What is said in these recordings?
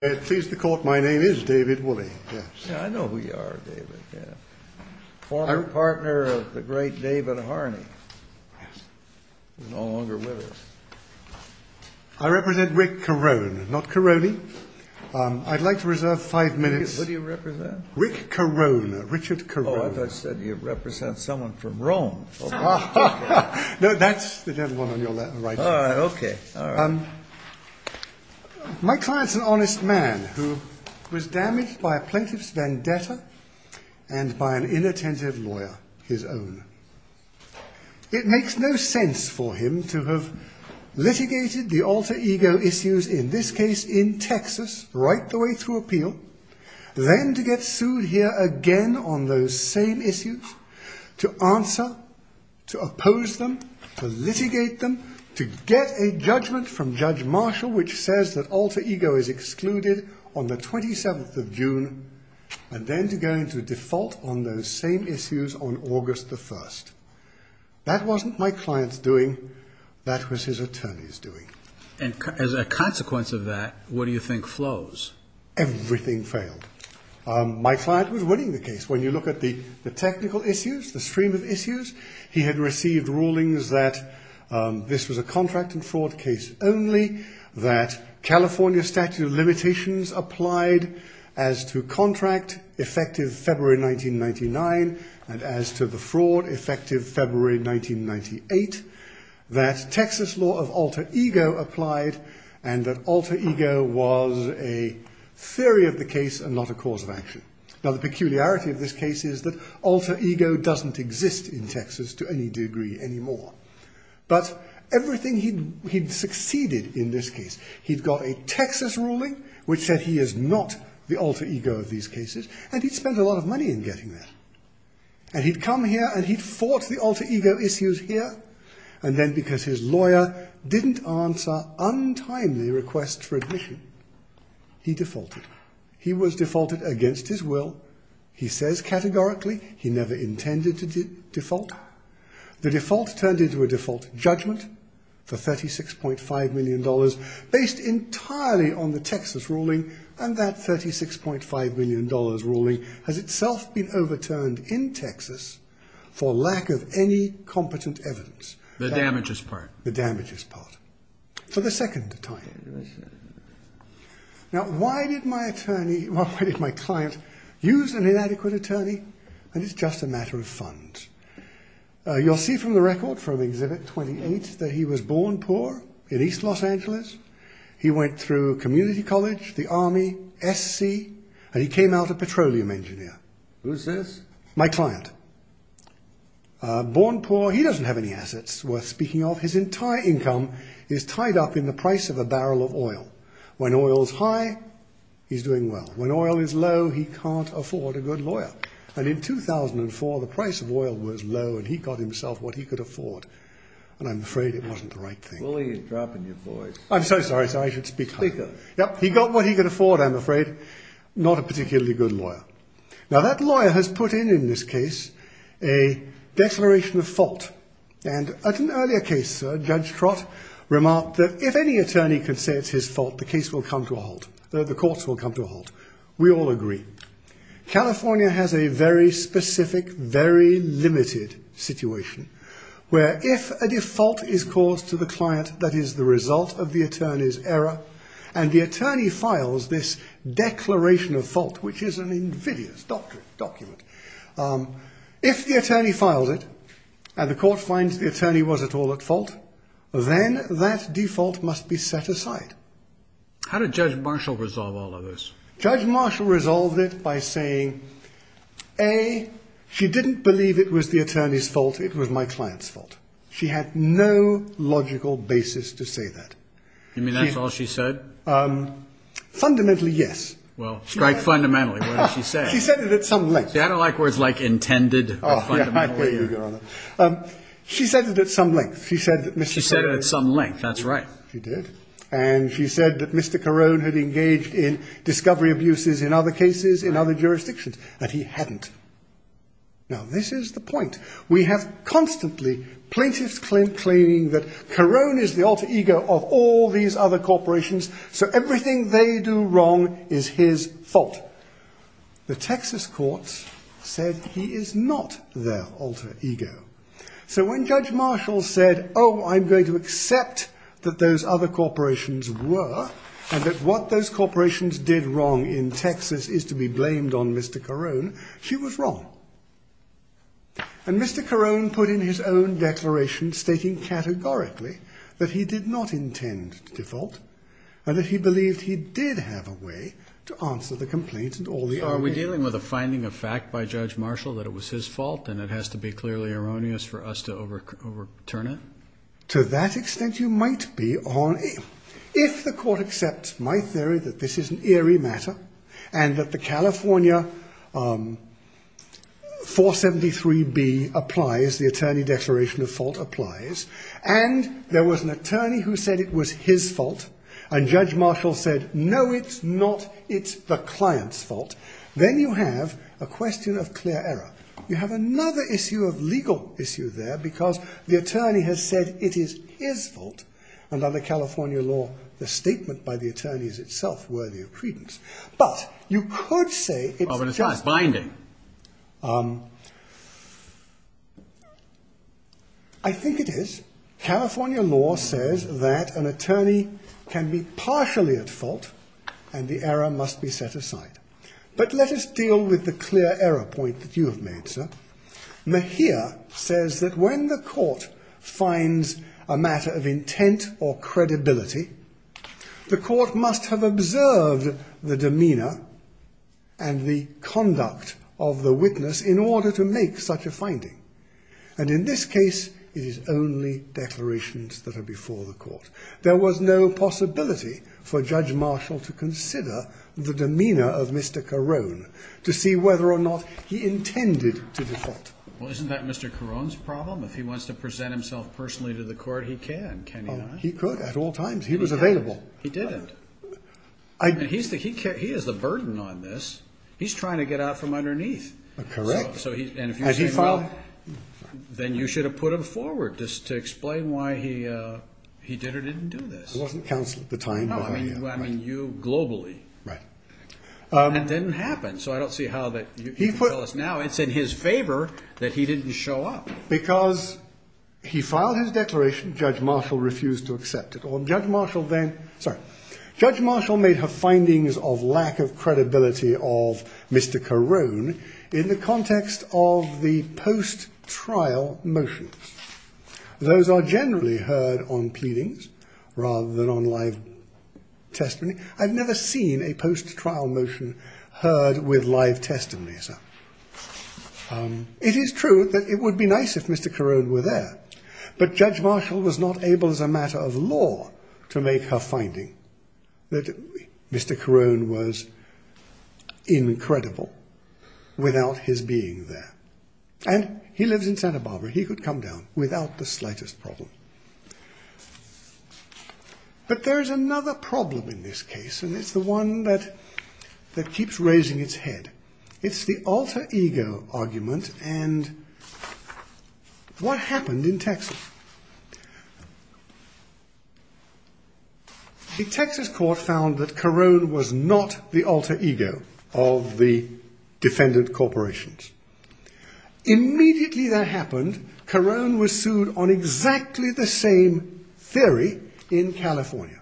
Pleased to court, my name is David Wooley. Yeah, I know who you are, David. Former partner of the great David Harney. Yes. He's no longer with us. I represent Rick Carone, not Caroney. I'd like to reserve five minutes. Who do you represent? Rick Carone, Richard Carone. Oh, I thought you said you represent someone from Rome. No, that's the gentleman on your right. All right, okay. My client's an honest man who was damaged by a plaintiff's vendetta and by an inattentive lawyer, his own. It makes no sense for him to have litigated the alter ego issues, in this case in Texas, right the way through appeal, then to get sued here again on those same issues, to answer, to oppose them, to litigate them, to get a judgment from Judge Marshall which says that alter ego is excluded on the 27th of June, and then to go into default on those same issues on August the 1st. That wasn't my client's doing. That was his attorney's doing. And as a consequence of that, what do you think flows? Everything failed. My client was winning the case. When you look at the technical issues, the stream of issues, he had received rulings that this was a contract and fraud case only, that California statute of limitations applied as to contract, effective February 1999, and as to the fraud, effective February 1998, that Texas law of alter ego applied, and that alter ego was a theory of the case and not a cause of action. Now the peculiarity of this case is that alter ego doesn't exist in Texas to any degree anymore. But everything he'd succeeded in this case, he'd got a Texas ruling which said he is not the alter ego of these cases, and he'd spent a lot of money in getting that. And he'd come here and he'd fought the alter ego issues here, and then because his lawyer didn't answer untimely requests for admission, he defaulted. He was defaulted against his will. He says categorically he never intended to default. The default turned into a default judgment for $36.5 million, based entirely on the Texas ruling, and that $36.5 million ruling has itself been overturned in Texas for lack of any competent evidence. The damages part. The damages part. For the second time. Now why did my client use an inadequate attorney? And it's just a matter of funds. You'll see from the record from Exhibit 28 that he was born poor in East Los Angeles. He went through community college, the Army, SC, and he came out a petroleum engineer. Who's this? My client. Born poor. He doesn't have any assets worth speaking of. His entire income is tied up in the price of a barrel of oil. When oil's high, he's doing well. When oil is low, he can't afford a good lawyer. And in 2004, the price of oil was low, and he got himself what he could afford. And I'm afraid it wasn't the right thing. Willie is dropping your voice. I'm so sorry. I should speak up. Speak up. He got what he could afford, I'm afraid. Now that lawyer has put in, in this case, a declaration of fault. And at an earlier case, Judge Trott remarked that if any attorney could say it's his fault, the case will come to a halt. The courts will come to a halt. We all agree. California has a very specific, very limited situation, where if a default is caused to the client that is the result of the attorney's error, and the attorney files this declaration of fault, which is an invidious document, if the attorney files it and the court finds the attorney was at all at fault, then that default must be set aside. How did Judge Marshall resolve all of this? Judge Marshall resolved it by saying, A, she didn't believe it was the attorney's fault. It was my client's fault. She had no logical basis to say that. You mean that's all she said? Fundamentally, yes. Well, strike fundamentally. What did she say? She said it at some length. See, I don't like words like intended or fundamentally. She said it at some length. She said it at some length, that's right. She did. And she said that Mr. Carone had engaged in discovery abuses in other cases, in other jurisdictions, and he hadn't. Now, this is the point. We have constantly plaintiffs claiming that Carone is the alter ego of all these other corporations, so everything they do wrong is his fault. The Texas courts said he is not their alter ego. So when Judge Marshall said, Oh, I'm going to accept that those other corporations were, and that what those corporations did wrong in Texas is to be blamed on Mr. Carone, she was wrong. And Mr. Carone put in his own declaration stating categorically that he did not intend to default, and that he believed he did have a way to answer the complaint and all the other ways. Are we dealing with a finding of fact by Judge Marshall that it was his fault and it has to be clearly erroneous for us to overturn it? To that extent, you might be. If the court accepts my theory that this is an eerie matter and that the California 473B applies, as the attorney declaration of fault applies, and there was an attorney who said it was his fault, and Judge Marshall said, No, it's not. It's the client's fault. Then you have a question of clear error. You have another issue of legal issue there because the attorney has said it is his fault. And under California law, the statement by the attorney is itself worthy of credence. But you could say it's the judge's finding. I think it is. California law says that an attorney can be partially at fault and the error must be set aside. But let us deal with the clear error point that you have made, sir. Mejia says that when the court finds a matter of intent or credibility, the court must have observed the demeanor and the conduct of the witness in order to make such a finding. And in this case, it is only declarations that are before the court. There was no possibility for Judge Marshall to consider the demeanor of Mr. Carone to see whether or not he intended to defect. Well, isn't that Mr. Carone's problem? If he wants to present himself personally to the court, he can, can't he not? He could at all times. He was available. He didn't. He is the burden on this. He's trying to get out from underneath. Correct. And if you say, well, then you should have put him forward just to explain why he did or didn't do this. It wasn't counsel at the time. No, I mean you globally. Right. And it didn't happen. So I don't see how that you can tell us now it's in his favor that he didn't show up. Because he filed his declaration. Judge Marshall refused to accept it. Or Judge Marshall then. So Judge Marshall made her findings of lack of credibility of Mr. Carone in the context of the post trial motion. Those are generally heard on pleadings rather than on live testimony. I've never seen a post trial motion heard with live testimony. It is true that it would be nice if Mr. Carone were there. But Judge Marshall was not able as a matter of law to make her finding that Mr. Carone was incredible without his being there. And he lives in Santa Barbara. He could come down without the slightest problem. But there is another problem in this case. And it's the one that that keeps raising its head. It's the alter ego argument. And what happened in Texas? The Texas court found that Carone was not the alter ego of the defendant corporations. Immediately that happened. Carone was sued on exactly the same theory in California.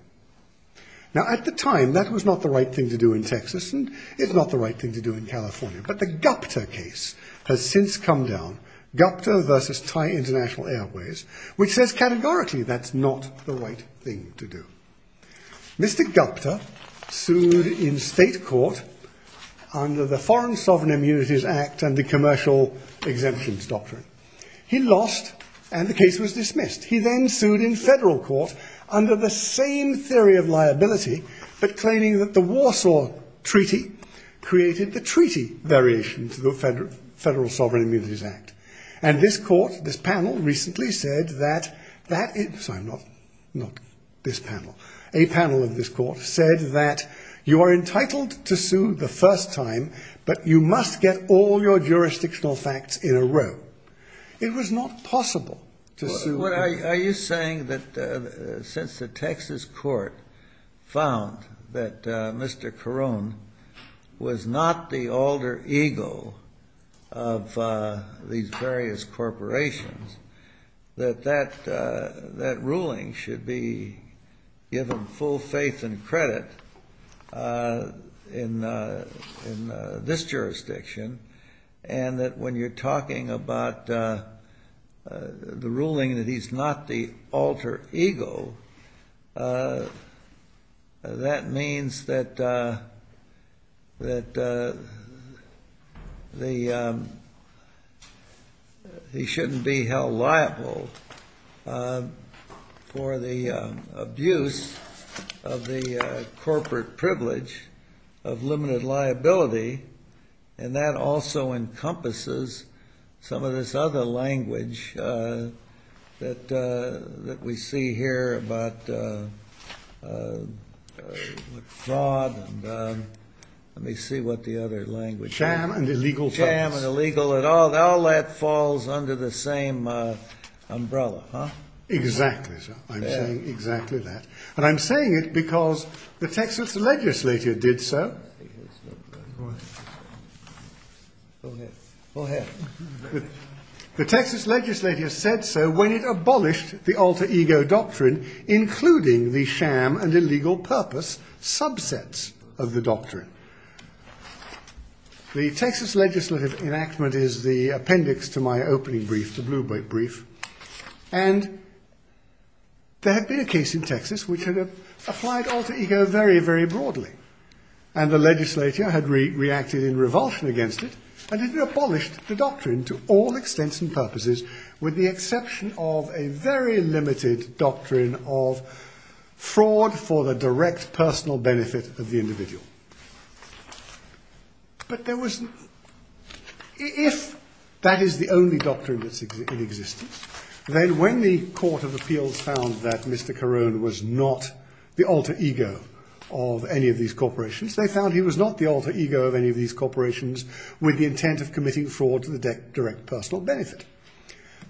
Now at the time that was not the right thing to do in Texas and it's not the right thing to do in California. But the Gupta case has since come down. Gupta versus Thai International Airways, which says categorically that's not the right thing to do. Mr. Gupta sued in state court under the Foreign Sovereign Immunities Act and the commercial exemptions doctrine. He lost and the case was dismissed. He then sued in federal court under the same theory of liability, but claiming that the Warsaw Treaty created the treaty variation to the Federal Sovereign Immunities Act. And this court, this panel recently said that that is not this panel. A panel of this court said that you are entitled to sue the first time, but you must get all your jurisdictional facts in a row. It was not possible to sue. Are you saying that since the Texas court found that Mr. Carone was not the alter ego of these various corporations, that that ruling should be given full faith and credit in this jurisdiction and that when you're talking about the ruling that he's not the alter ego, that means that he shouldn't be held liable for the abuse of the corporate privilege of limited liability. And that also encompasses some of this other language that we see here about fraud and let me see what the other language is. Sham and illegal funds. Sham and illegal and all that falls under the same umbrella, huh? Exactly, sir. I'm saying exactly that. And I'm saying it because the Texas legislature did so. The Texas legislature said so when it abolished the alter ego doctrine, including the sham and illegal purpose subsets of the doctrine. The Texas legislative enactment is the appendix to my opening brief, the blue brief. And there had been a case in Texas which had applied alter ego very, very broadly. And the legislature had reacted in revulsion against it and had abolished the doctrine to all extents and purposes with the exception of a very limited doctrine of fraud for the direct personal benefit of the individual. But there was, if that is the only doctrine that's in existence, then when the Court of Appeals found that Mr. Carone was not the alter ego of any of these corporations, they found he was not the alter ego of any of these corporations with the intent of committing fraud to the direct personal benefit.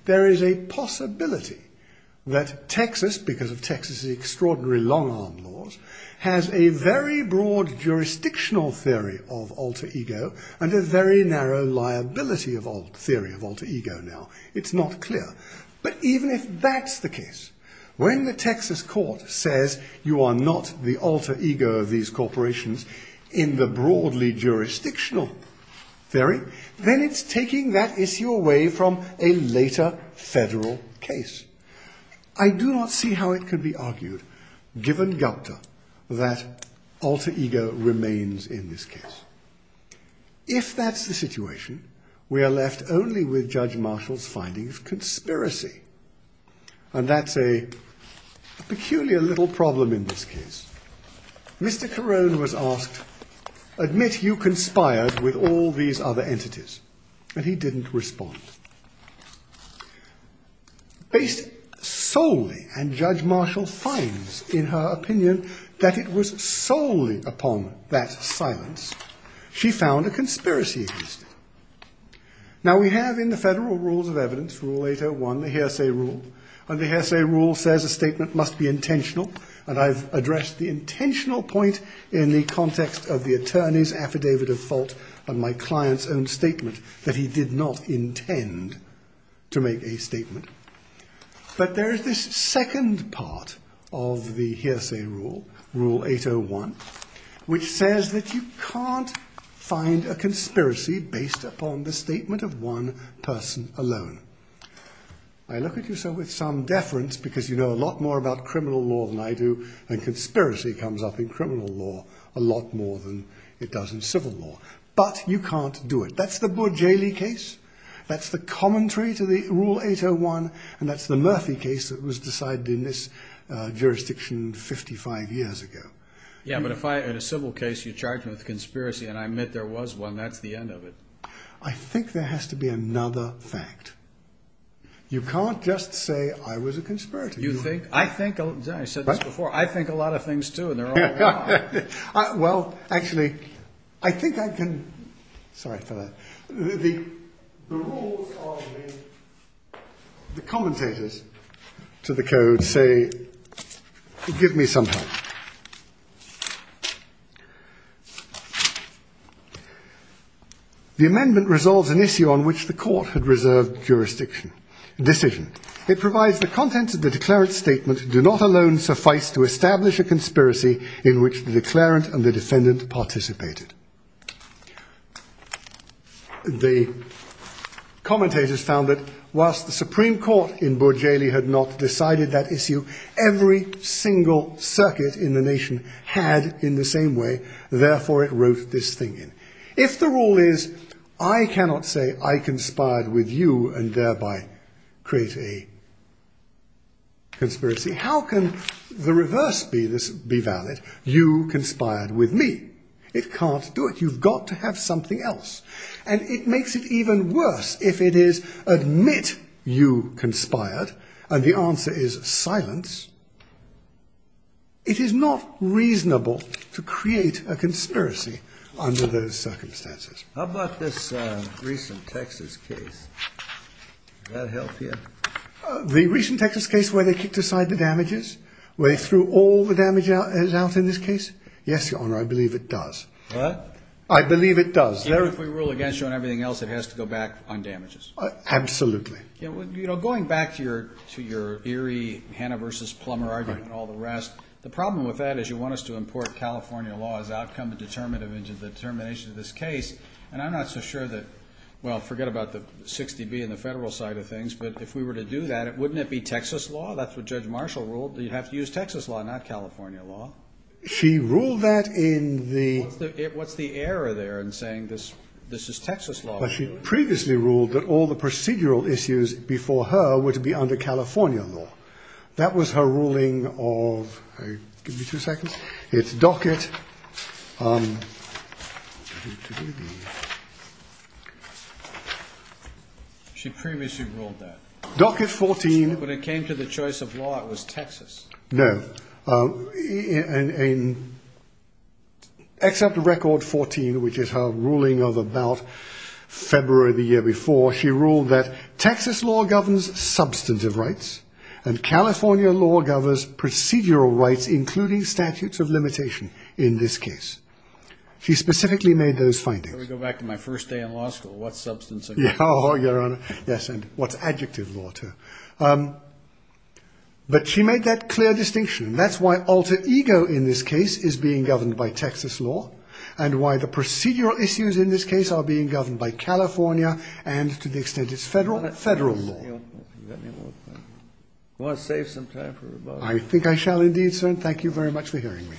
There is a possibility that Texas, because of Texas's extraordinary long arm laws, has a very broad jurisdictional theory of alter ego and a very narrow liability theory of alter ego now. It's not clear. But even if that's the case, when the Texas court says you are not the alter ego of these corporations in the broadly jurisdictional theory, then it's taking that issue away from a later federal case. I do not see how it could be argued, given Gupta, that alter ego remains in this case. If that's the situation, we are left only with Judge Marshall's findings of conspiracy. And that's a peculiar little problem in this case. Mr. Carone was asked, admit you conspired with all these other entities. And he didn't respond. Based solely, and Judge Marshall finds in her opinion that it was solely upon that silence, she found a conspiracy existed. Now we have in the Federal Rules of Evidence, Rule 801, the hearsay rule. And the hearsay rule says a statement must be intentional. And I've addressed the intentional point in the context of the attorney's affidavit of fault and my client's own statement that he did not intend to make a statement. But there is this second part of the hearsay rule, Rule 801, which says that you can't find a conspiracy based upon the statement of one person alone. I look at you, sir, with some deference, because you know a lot more about criminal law than I do. And conspiracy comes up in criminal law a lot more than it does in civil law. But you can't do it. That's the Bourjali case. That's the commentary to the Rule 801. And that's the Murphy case that was decided in this jurisdiction 55 years ago. Yeah, but if I, in a civil case, you charge me with a conspiracy and I admit there was one, that's the end of it. I think there has to be another fact. You can't just say I was a conspirator. You think, I think, I said this before, I think a lot of things too, and they're all wrong. Well, actually, I think I can. Sorry for that. The rules are the commentators to the code say, give me some help. The amendment resolves an issue on which the court had reserved jurisdiction, decision. It provides the contents of the declarant's statement do not alone suffice to establish a conspiracy in which the declarant and the defendant participated. The commentators found that whilst the Supreme Court in Bourjali had not decided that issue, every single circuit in the nation had in the same way. Therefore, it wrote this thing in. If the rule is, I cannot say I conspired with you and thereby create a conspiracy, how can the reverse be valid? You conspired with me. It can't do it. You've got to have something else. And it makes it even worse if it is, admit you conspired, and the answer is silence. It is not reasonable to create a conspiracy under those circumstances. How about this recent Texas case? That help here. The recent Texas case where they kicked aside the damages way through all the damage is out in this case. Yes, your honor. I believe it does. But I believe it does. If we rule against you and everything else, it has to go back on damages. Absolutely. Going back to your eerie Hannah versus Plummer argument and all the rest, the problem with that is you want us to import California law as outcome and determination of this case. And I'm not so sure that, well, forget about the 60B and the federal side of things, but if we were to do that, wouldn't it be Texas law? That's what Judge Marshall ruled. You'd have to use Texas law, not California law. She ruled that in the. What's the error there in saying this is Texas law? She previously ruled that all the procedural issues before her were to be under California law. That was her ruling of. Give me two seconds. It's docket. She previously ruled that. Docket 14. When it came to the choice of law, it was Texas. No. Except the record 14, which is her ruling of about February the year before, she ruled that Texas law governs substantive rights and California law governs procedural rights, including statutes of limitation. In this case, she specifically made those findings. Go back to my first day in law school. What substance? Yes. And what's adjective water? But she made that clear distinction. That's why alter ego in this case is being governed by Texas law and why the procedural issues in this case are being governed by California and, to the extent it's federal, federal law. Want to save some time for rebuttal? I think I shall indeed, sir, and thank you very much for hearing me.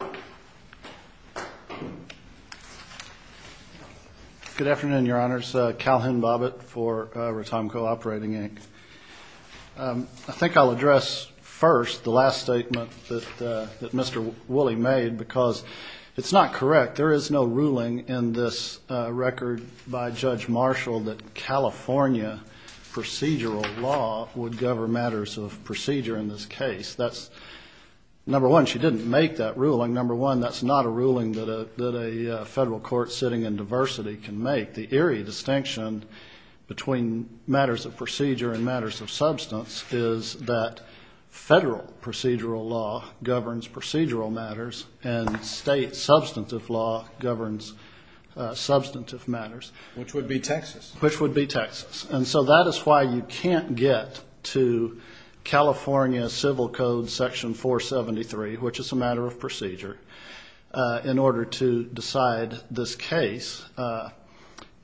Thank you. Good afternoon, Your Honors. Calhoun Bobbitt for Retomco Operating, Inc. I think I'll address first the last statement that Mr. Woolley made because it's not correct. There is no ruling in this record by Judge Marshall that California procedural law would govern matters of procedure in this case. That's, number one, she didn't make that ruling. Number one, that's not a ruling that a federal court sitting in diversity can make. The eerie distinction between matters of procedure and matters of substance is that federal procedural law governs procedural matters and state substantive law governs substantive matters. Which would be Texas. Which would be Texas. And so that is why you can't get to California Civil Code Section 473, which is a matter of procedure, in order to decide this case.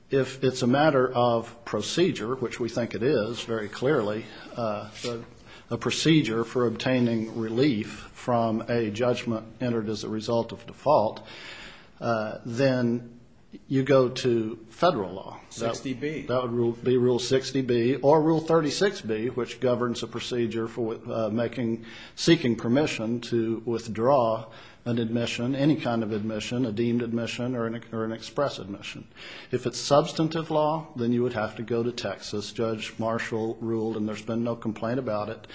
If it's a matter of procedure, which we think it is very clearly, a procedure for obtaining relief from a judgment entered as a result of default, then you go to federal law. 60B. That would be Rule 60B or Rule 36B, which governs a procedure for seeking permission to withdraw an admission, any kind of admission, a deemed admission or an express admission. If it's substantive law, then you would have to go to Texas. As Judge Marshall ruled, and there's been no complaint about it,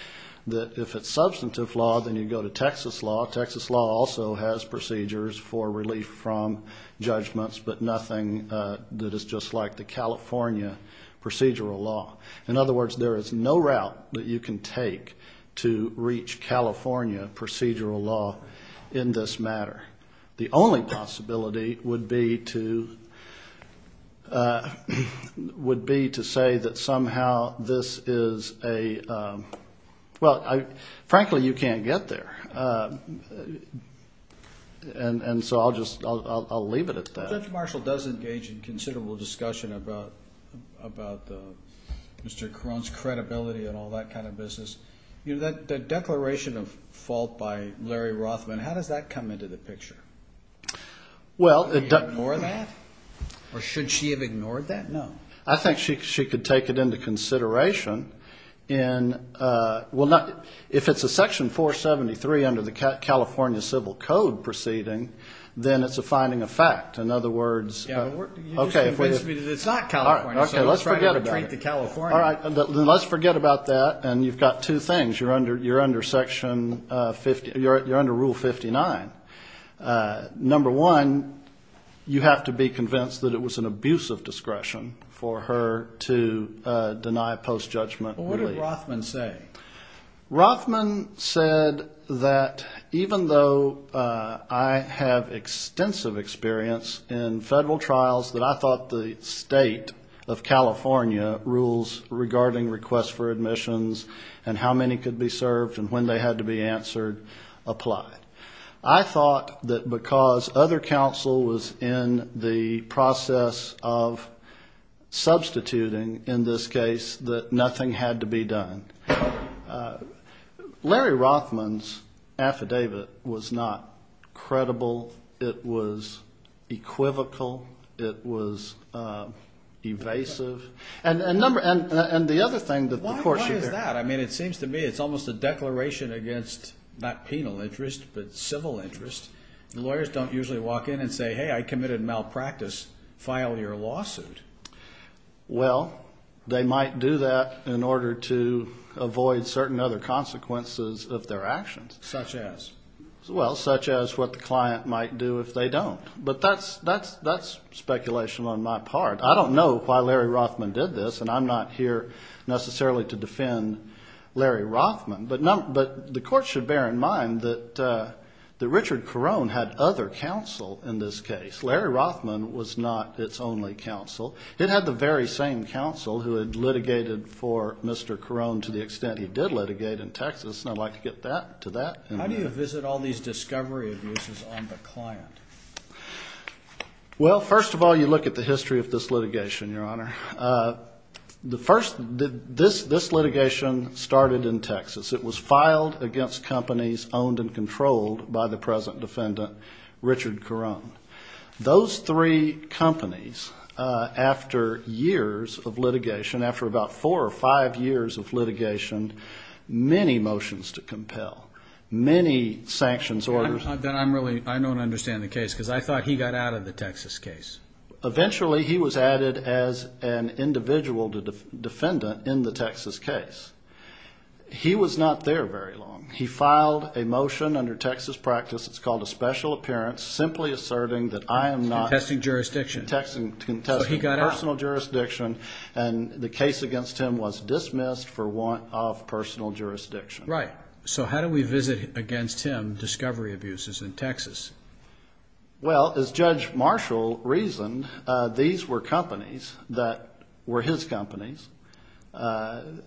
that if it's substantive law, then you go to Texas law. Texas law also has procedures for relief from judgments, but nothing that is just like the California procedural law. In other words, there is no route that you can take to reach California procedural law in this matter. The only possibility would be to say that somehow this is a, well, frankly, you can't get there. And so I'll just leave it at that. Judge Marshall does engage in considerable discussion about Mr. Caron's credibility and all that kind of business. The declaration of fault by Larry Rothman, how does that come into the picture? Well, Did he ignore that? Or should she have ignored that? No. I think she could take it into consideration. If it's a Section 473 under the California Civil Code proceeding, then it's a finding of fact. In other words, You just convinced me that it's not California, so let's try to retreat to California. Let's forget about that. And you've got two things. You're under Rule 59. Number one, you have to be convinced that it was an abuse of discretion for her to deny post-judgment relief. What did Rothman say? Rothman said that, even though I have extensive experience in federal trials, that I thought the state of California rules regarding requests for admissions and how many could be served and when they had to be answered applied. I thought that because other counsel was in the process of substituting in this case, that nothing had to be done. Larry Rothman's affidavit was not credible. It was equivocal. It was evasive. Why is that? I mean, it seems to me it's almost a declaration against not penal interest but civil interest. Lawyers don't usually walk in and say, Hey, I committed malpractice. File your lawsuit. Well, they might do that in order to avoid certain other consequences of their actions. Such as? Well, such as what the client might do if they don't. But that's speculation on my part. I don't know why Larry Rothman did this, and I'm not here necessarily to defend Larry Rothman. But the court should bear in mind that Richard Carone had other counsel in this case. Larry Rothman was not its only counsel. It had the very same counsel who had litigated for Mr. Carone to the extent he did litigate in Texas, and I'd like to get to that. How do you visit all these discovery abuses on the client? Well, first of all, you look at the history of this litigation, Your Honor. This litigation started in Texas. It was filed against companies owned and controlled by the present defendant, Richard Carone. Those three companies, after years of litigation, after about four or five years of litigation, many motions to compel, many sanctions orders. I don't understand the case because I thought he got out of the Texas case. Eventually he was added as an individual defendant in the Texas case. He was not there very long. He filed a motion under Texas practice. It's called a special appearance, simply asserting that I am not. Contesting jurisdiction. Contesting personal jurisdiction, and the case against him was dismissed for want of personal jurisdiction. Right. So how do we visit against him discovery abuses in Texas? Well, as Judge Marshall reasoned, these were companies that were his companies, and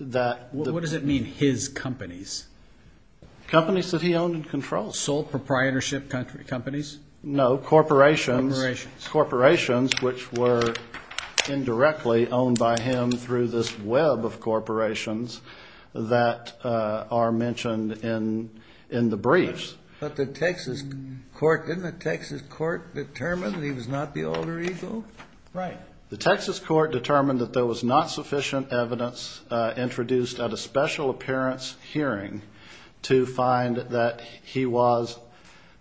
that... What does it mean, his companies? Companies that he owned and controlled. Sole proprietorship companies? No. Corporations. Corporations. Corporations, which were indirectly owned by him through this web of corporations that are mentioned in the briefs. But the Texas court, didn't the Texas court determine that he was not the alter ego? Right. The Texas court determined that there was not sufficient evidence introduced at a special appearance hearing to find that he was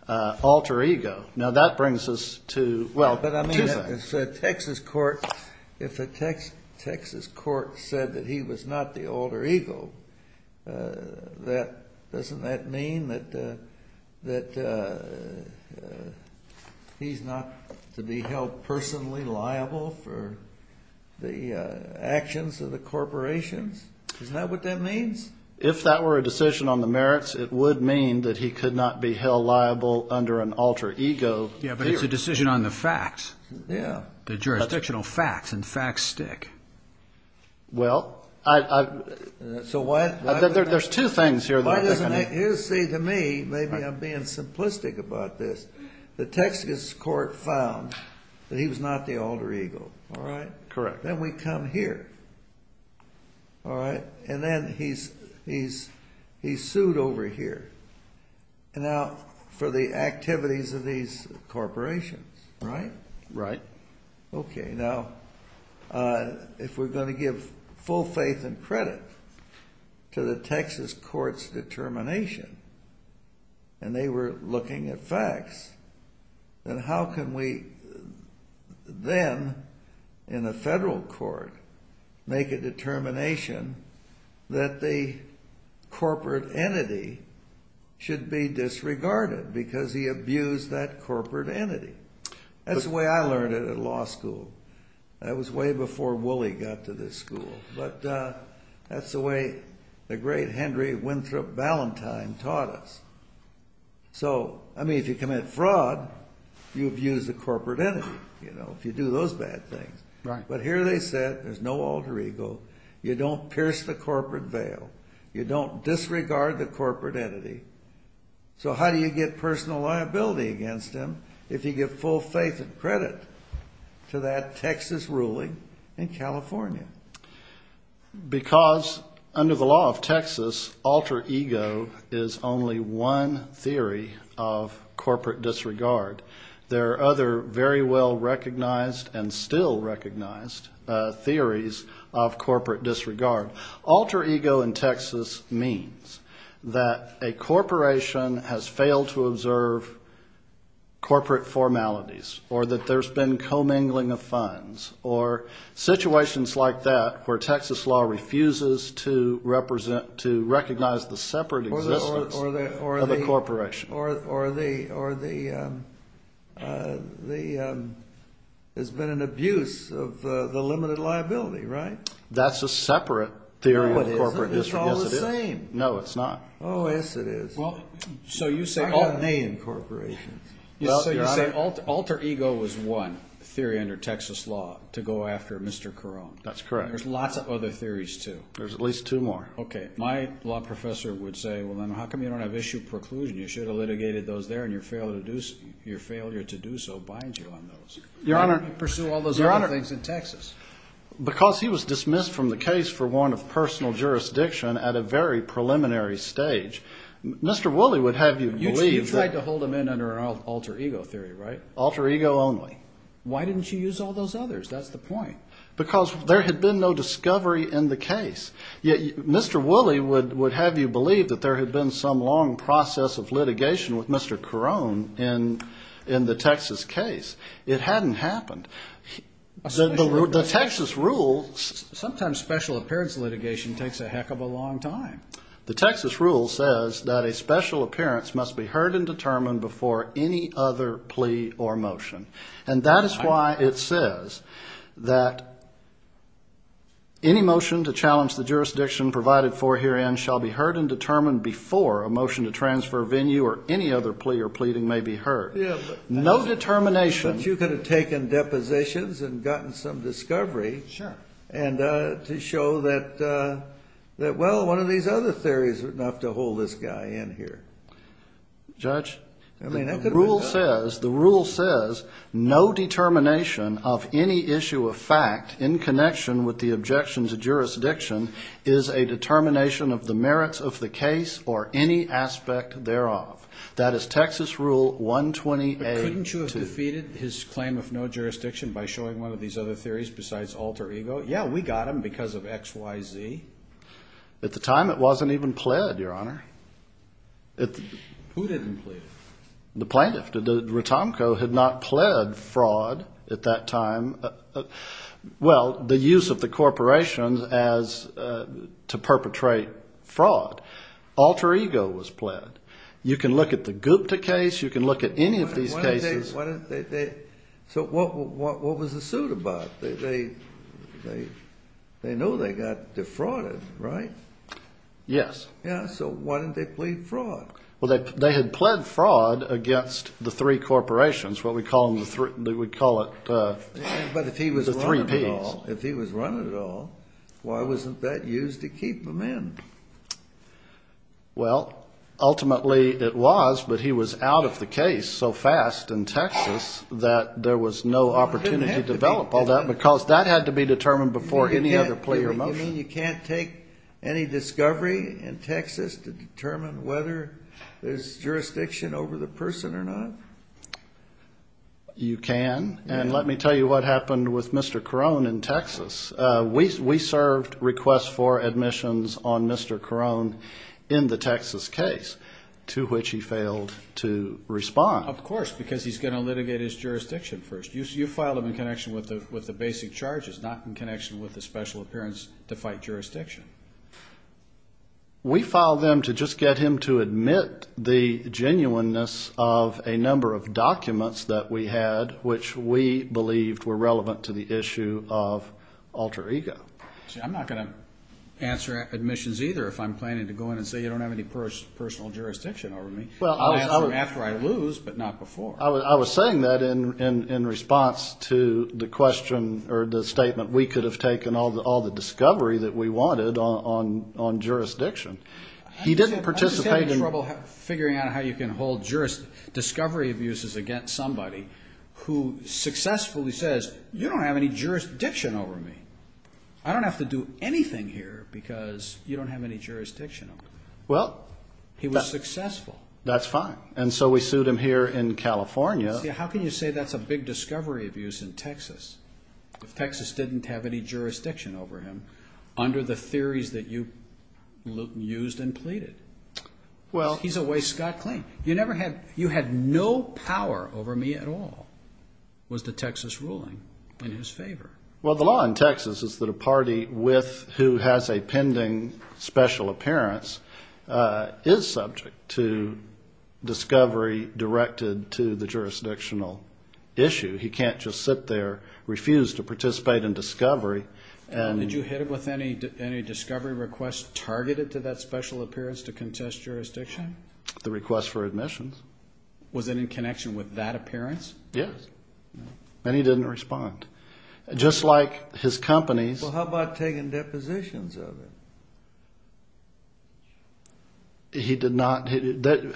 alter ego. Now, that brings us to... The actions of the corporations? Is that what that means? If that were a decision on the merits, it would mean that he could not be held liable under an alter ego. Yeah, but it's a decision on the facts. Yeah. The jurisdictional facts, and facts stick. Well, I... So why... There's two things here. Here, see, to me, maybe I'm being simplistic about this. The Texas court found that he was not the alter ego. All right? Correct. Then we come here. All right? And then he's sued over here. Now, for the activities of these corporations, right? Right. Okay, now, if we're going to give full faith and credit to the Texas court's determination, and they were looking at facts, then how can we then, in a federal court, make a determination that the corporate entity should be disregarded because he abused that corporate entity? That's the way I learned it at law school. That was way before Wooley got to this school. But that's the way the great Henry Winthrop Ballantyne taught us. So, I mean, if you commit fraud, you abuse the corporate entity, you know, if you do those bad things. Right. But here they said there's no alter ego. You don't pierce the corporate veil. You don't disregard the corporate entity. So how do you get personal liability against him if you give full faith and credit to that Texas ruling in California? Because under the law of Texas, alter ego is only one theory of corporate disregard. There are other very well recognized and still recognized theories of corporate disregard. Alter ego in Texas means that a corporation has failed to observe corporate formalities or that there's been commingling of funds or situations like that where Texas law refuses to recognize the separate existence of a corporation. Or there's been an abuse of the limited liability, right? That's a separate theory of corporate disregard. It's all the same. No, it's not. Oh, yes, it is. So you say alter ego was one theory under Texas law to go after Mr. Carone. That's correct. There's lots of other theories, too. There's at least two more. Okay. My law professor would say, well, then how come you don't have issue preclusion? You should have litigated those there and your failure to do so binds you on those. Why didn't you pursue all those other things in Texas? Because he was dismissed from the case for warrant of personal jurisdiction at a very preliminary stage. Mr. Wooley would have you believe that. You tried to hold him in under an alter ego theory, right? Alter ego only. Why didn't you use all those others? That's the point. Because there had been no discovery in the case. Yet Mr. Wooley would have you believe that there had been some long process of litigation with Mr. Carone in the Texas case. It hadn't happened. The Texas rules. Sometimes special appearance litigation takes a heck of a long time. The Texas rule says that a special appearance must be heard and determined before any other plea or motion. And that is why it says that any motion to challenge the jurisdiction provided for herein shall be heard and determined before a motion to transfer venue or any other plea or pleading may be heard. No determination. But you could have taken depositions and gotten some discovery. Sure. And to show that, well, one of these other theories would not have to hold this guy in here. Judge, the rule says no determination of any issue of fact in connection with the objection to jurisdiction is a determination of the merits of the case or any aspect thereof. That is Texas Rule 128. Couldn't you have defeated his claim of no jurisdiction by showing one of these other theories besides alter ego? Yeah, we got him because of X, Y, Z. At the time, it wasn't even pled, Your Honor. Who didn't plead? The plaintiff. Ratomko had not pled fraud at that time. Well, the use of the corporation as to perpetrate fraud. Alter ego was pled. You can look at the Gupta case. You can look at any of these cases. So what was the suit about? They knew they got defrauded, right? Yes. Yeah, so why didn't they plead fraud? Well, they had pled fraud against the three corporations, what we call the three P's. But if he was running it all, why wasn't that used to keep them in? Well, ultimately it was, but he was out of the case so fast in Texas that there was no opportunity to develop all that because that had to be determined before any other plea or motion. You mean you can't take any discovery in Texas to determine whether there's jurisdiction over the person or not? You can. And let me tell you what happened with Mr. Carone in Texas. We served requests for admissions on Mr. Carone in the Texas case to which he failed to respond. Of course, because he's going to litigate his jurisdiction first. You filed him in connection with the basic charges, not in connection with the special appearance to fight jurisdiction. We filed them to just get him to admit the genuineness of a number of documents that we had, which we believed were relevant to the issue of alter ego. See, I'm not going to answer admissions either if I'm planning to go in and say you don't have any personal jurisdiction over me. I'll answer after I lose, but not before. I was saying that in response to the question or the statement we could have taken all the discovery that we wanted on jurisdiction. I'm just having trouble figuring out how you can hold discovery abuses against somebody who successfully says, you don't have any jurisdiction over me. I don't have to do anything here because you don't have any jurisdiction over me. He was successful. That's fine. And so we sued him here in California. How can you say that's a big discovery abuse in Texas if Texas didn't have any jurisdiction over him under the theories that you used and pleaded? He's a way Scott claimed. You had no power over me at all was the Texas ruling in his favor. Well, the law in Texas is that a party who has a pending special appearance is subject to discovery directed to the jurisdictional issue. He can't just sit there, refuse to participate in discovery. Did you hit him with any discovery requests targeted to that special appearance to contest jurisdiction? The request for admissions. Was it in connection with that appearance? Yes. And he didn't respond. Just like his companies. Well, how about taking depositions of him? He did not. There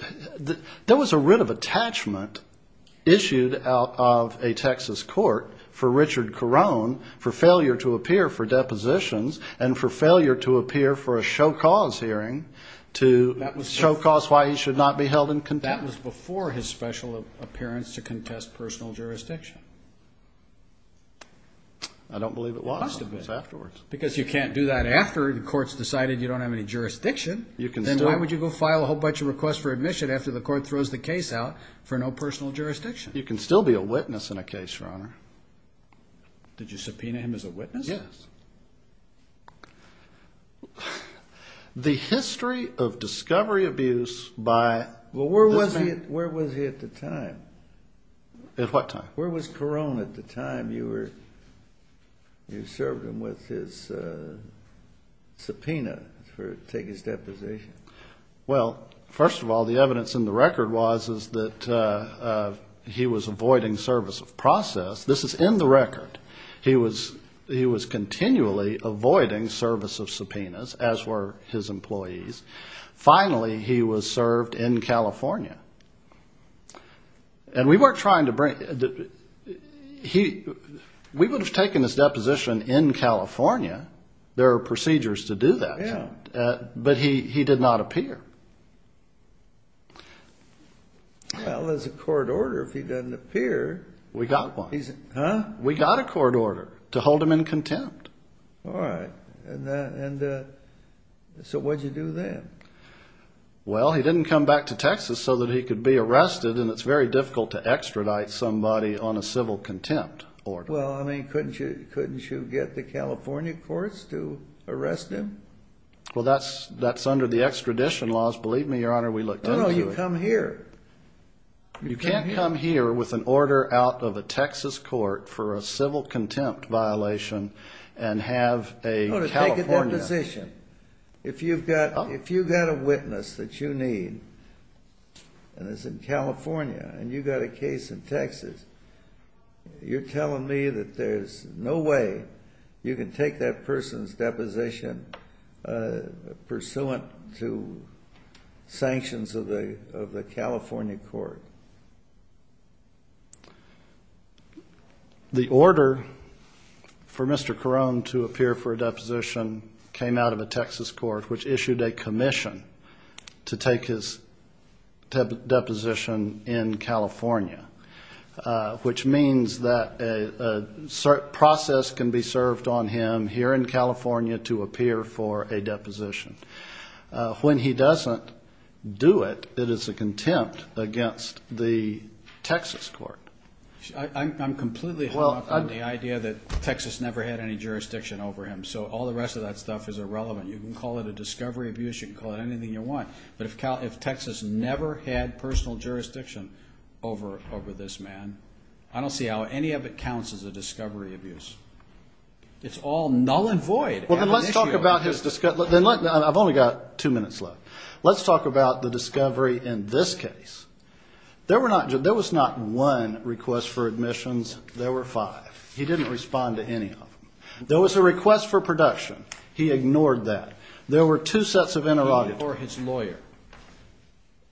was a writ of attachment issued out of a Texas court for Richard Carone for failure to appear for depositions and for failure to appear for a show cause hearing to show cause why he should not be held in contempt. That was before his special appearance to contest personal jurisdiction. I don't believe it was. It must have been. It was afterwards. Because you can't do that after the court's decided you don't have any jurisdiction. Then why would you go file a whole bunch of requests for admission after the court throws the case out for no personal jurisdiction? You can still be a witness in a case, Your Honor. Did you subpoena him as a witness? Yes. The history of discovery abuse by... Well, where was he at the time? At what time? Where was Carone at the time you served him with his subpoena to take his deposition? Well, first of all, the evidence in the record was that he was avoiding service of process. This is in the record. He was continually avoiding service of subpoenas, as were his employees. Finally, he was served in California. And we weren't trying to bring... We would have taken his deposition in California. There are procedures to do that. Yeah. But he did not appear. Well, there's a court order if he doesn't appear. We got one. Huh? We got a court order to hold him in contempt. All right. And so what did you do then? Well, he didn't come back to Texas so that he could be arrested, and it's very difficult to extradite somebody on a civil contempt order. Well, I mean, couldn't you get the California courts to arrest him? Well, that's under the extradition laws. Believe me, Your Honor, we looked into it. No, no, you come here. You can't come here with an order out of a Texas court for a civil contempt violation and have a California... If you've got a witness that you need and it's in California and you've got a case in Texas, you're telling me that there's no way you can take that person's deposition pursuant to sanctions of the California court? The order for Mr. Carone to appear for a deposition came out of a Texas court, which issued a commission to take his deposition in California, which means that a process can be served on him here in California to appear for a deposition. When he doesn't do it, it is a contempt against the Texas court. I'm completely hung up on the idea that Texas never had any jurisdiction over him, so all the rest of that stuff is irrelevant. You can call it a discovery abuse. You can call it anything you want, but if Texas never had personal jurisdiction over this man, I don't see how any of it counts as a discovery abuse. It's all null and void. Well, then let's talk about his discovery. I've only got two minutes left. Let's talk about the discovery in this case. There was not one request for admissions. There were five. He didn't respond to any of them. There was a request for production. He ignored that. There were two sets of interrogations. Or his lawyer.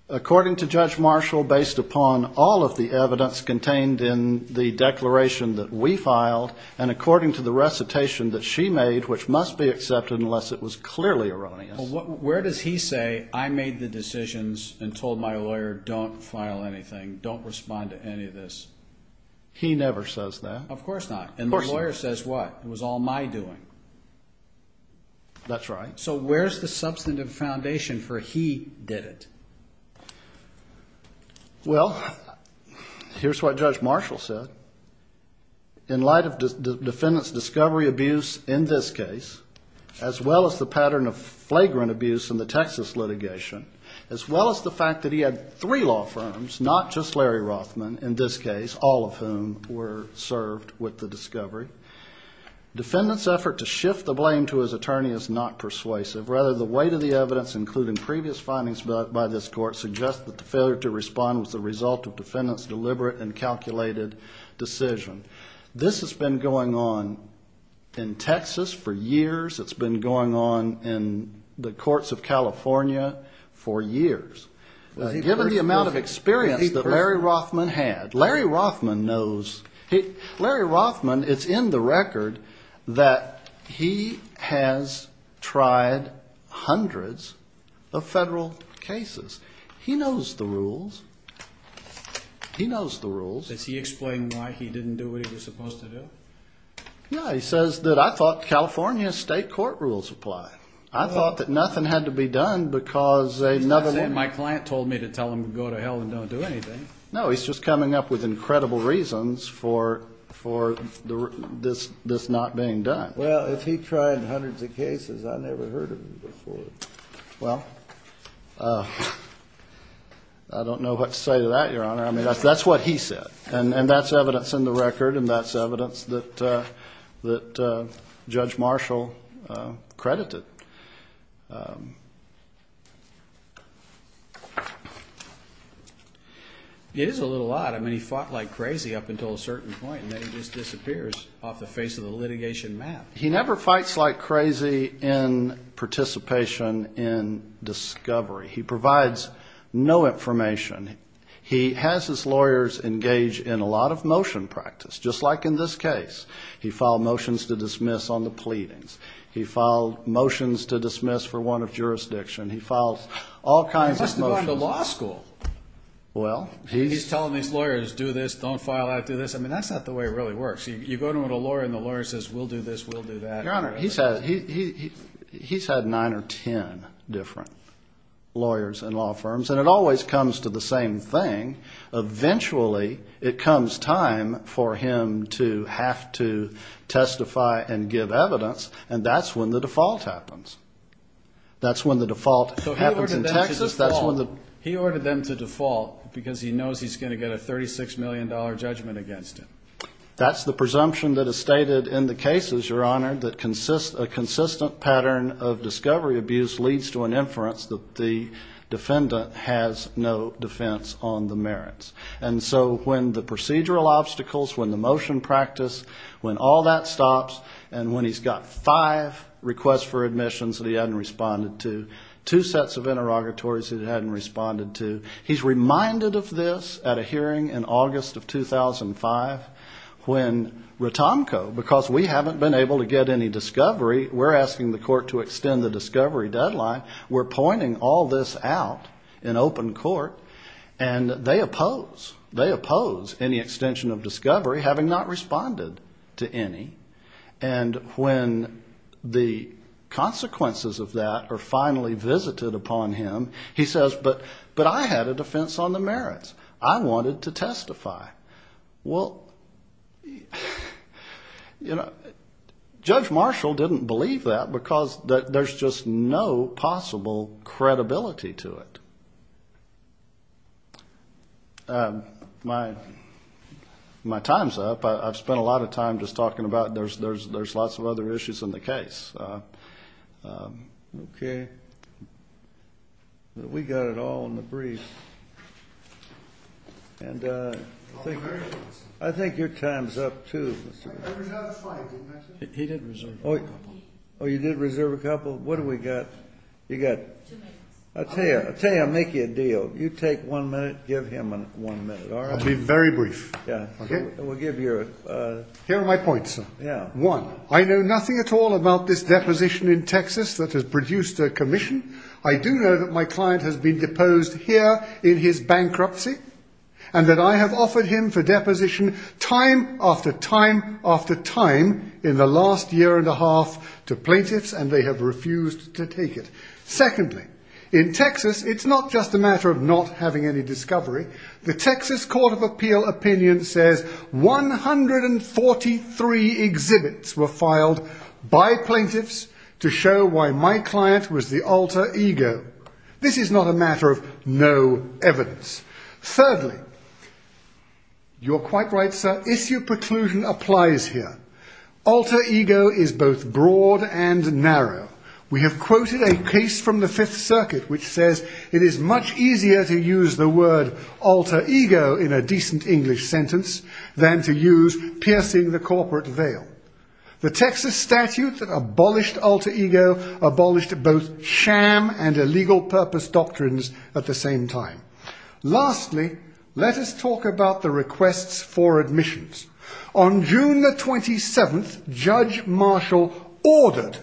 According to Judge Marshall, based upon all of the evidence contained in the declaration that we filed, and according to the recitation that she made, which must be accepted unless it was clearly erroneous. Well, where does he say, I made the decisions and told my lawyer don't file anything, don't respond to any of this? He never says that. Of course not. And the lawyer says what? It was all my doing. That's right. So where's the substantive foundation for he did it? Well, here's what Judge Marshall said. In light of the defendant's discovery abuse in this case, as well as the pattern of flagrant abuse in the Texas litigation, as well as the fact that he had three law firms, not just Larry Rothman in this case, all of whom were served with the discovery, defendant's effort to shift the blame to his attorney is not persuasive. Rather, the weight of the evidence, including previous findings by this court, suggest that the failure to respond was the result of defendant's deliberate and calculated decision. This has been going on in Texas for years. It's been going on in the courts of California for years. Given the amount of experience that Larry Rothman had, Larry Rothman knows. Larry Rothman, it's in the record that he has tried hundreds of federal cases. He knows the rules. He knows the rules. Does he explain why he didn't do what he was supposed to do? No. He says that I thought California state court rules applied. I thought that nothing had to be done because another one. He's not saying my client told me to tell him to go to hell and don't do anything. No, he's just coming up with incredible reasons for this not being done. Well, if he tried hundreds of cases, I never heard of him before. Well, I don't know what to say to that, Your Honor. I mean, that's what he said. And that's evidence in the record, and that's evidence that Judge Marshall credited. It is a little odd. I mean, he fought like crazy up until a certain point, and then he just disappears off the face of the litigation map. He never fights like crazy in participation in discovery. He provides no information. He has his lawyers engage in a lot of motion practice, just like in this case. He filed motions to dismiss on the pleadings. He filed motions to dismiss for one of jurisdiction. He filed all kinds of motions. Well, he's telling these lawyers, do this, don't file out, do this. I mean, that's not the way it really works. You go to a lawyer and the lawyer says, we'll do this, we'll do that. Your Honor, he's had nine or ten different lawyers in law firms, and it always comes to the same thing. Eventually, it comes time for him to have to testify and give evidence, and that's when the default happens. That's when the default happens in Texas. He ordered them to default because he knows he's going to get a $36 million judgment against him. That's the presumption that is stated in the cases, Your Honor, that a consistent pattern of discovery abuse leads to an inference that the defendant has no defense on the merits. And so when the procedural obstacles, when the motion practice, when all that stops, and when he's got five requests for admissions that he hadn't responded to, two sets of interrogatories that he hadn't responded to, he's reminded of this at a hearing in August of 2005 when Ratonko, because we haven't been able to get any discovery, we're asking the court to extend the discovery deadline. We're pointing all this out in open court, and they oppose. They oppose any extension of discovery, having not responded to any. And when the consequences of that are finally visited upon him, he says, but I had a defense on the merits. I wanted to testify. Well, you know, Judge Marshall didn't believe that because there's just no possible credibility to it. My time's up. I've spent a lot of time just talking about there's lots of other issues in the case. Okay. We got it all in the brief. And I think your time's up, too. I reserved a slide, didn't I, sir? He did reserve a couple. Oh, you did reserve a couple? What do we got? You got? Two minutes. I'll tell you, I'll make you a deal. You take one minute, give him one minute. I'll be very brief. Yeah. Okay. We'll give you a- Here are my points, sir. Yeah. One, I know nothing at all about this deposition in Texas that has produced a commission. I do know that my client has been deposed here in his bankruptcy, and that I have offered him for deposition time after time after time in the last year and a half to plaintiffs, and they have refused to take it. Secondly, in Texas, it's not just a matter of not having any discovery. The Texas Court of Appeal opinion says 143 exhibits were filed by plaintiffs to show why my client was the alter ego. This is not a matter of no evidence. Thirdly, you're quite right, sir. Issue preclusion applies here. Alter ego is both broad and narrow. We have quoted a case from the Fifth Circuit which says it is much easier to use the word alter ego in a decent English sentence than to use piercing the corporate veil. The Texas statute that abolished alter ego abolished both sham and illegal purpose doctrines at the same time. Lastly, let us talk about the requests for admissions. On June the 27th, Judge Marshall ordered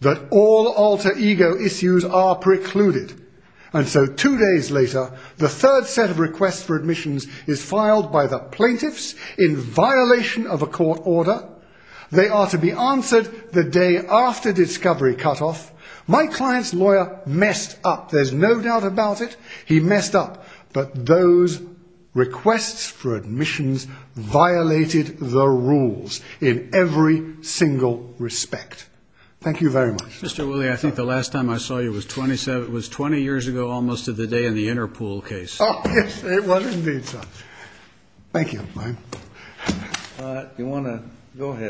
that all alter ego issues are precluded. And so two days later, the third set of requests for admissions is filed by the plaintiffs in violation of a court order. They are to be answered the day after discovery cutoff. My client's lawyer messed up. There's no doubt about it. He messed up. But those requests for admissions violated the rules in every single respect. Thank you very much. Mr. Wooley, I think the last time I saw you was 20 years ago almost to the day in the Interpool case. Oh, yes, it was indeed, sir. Thank you. You want to go ahead.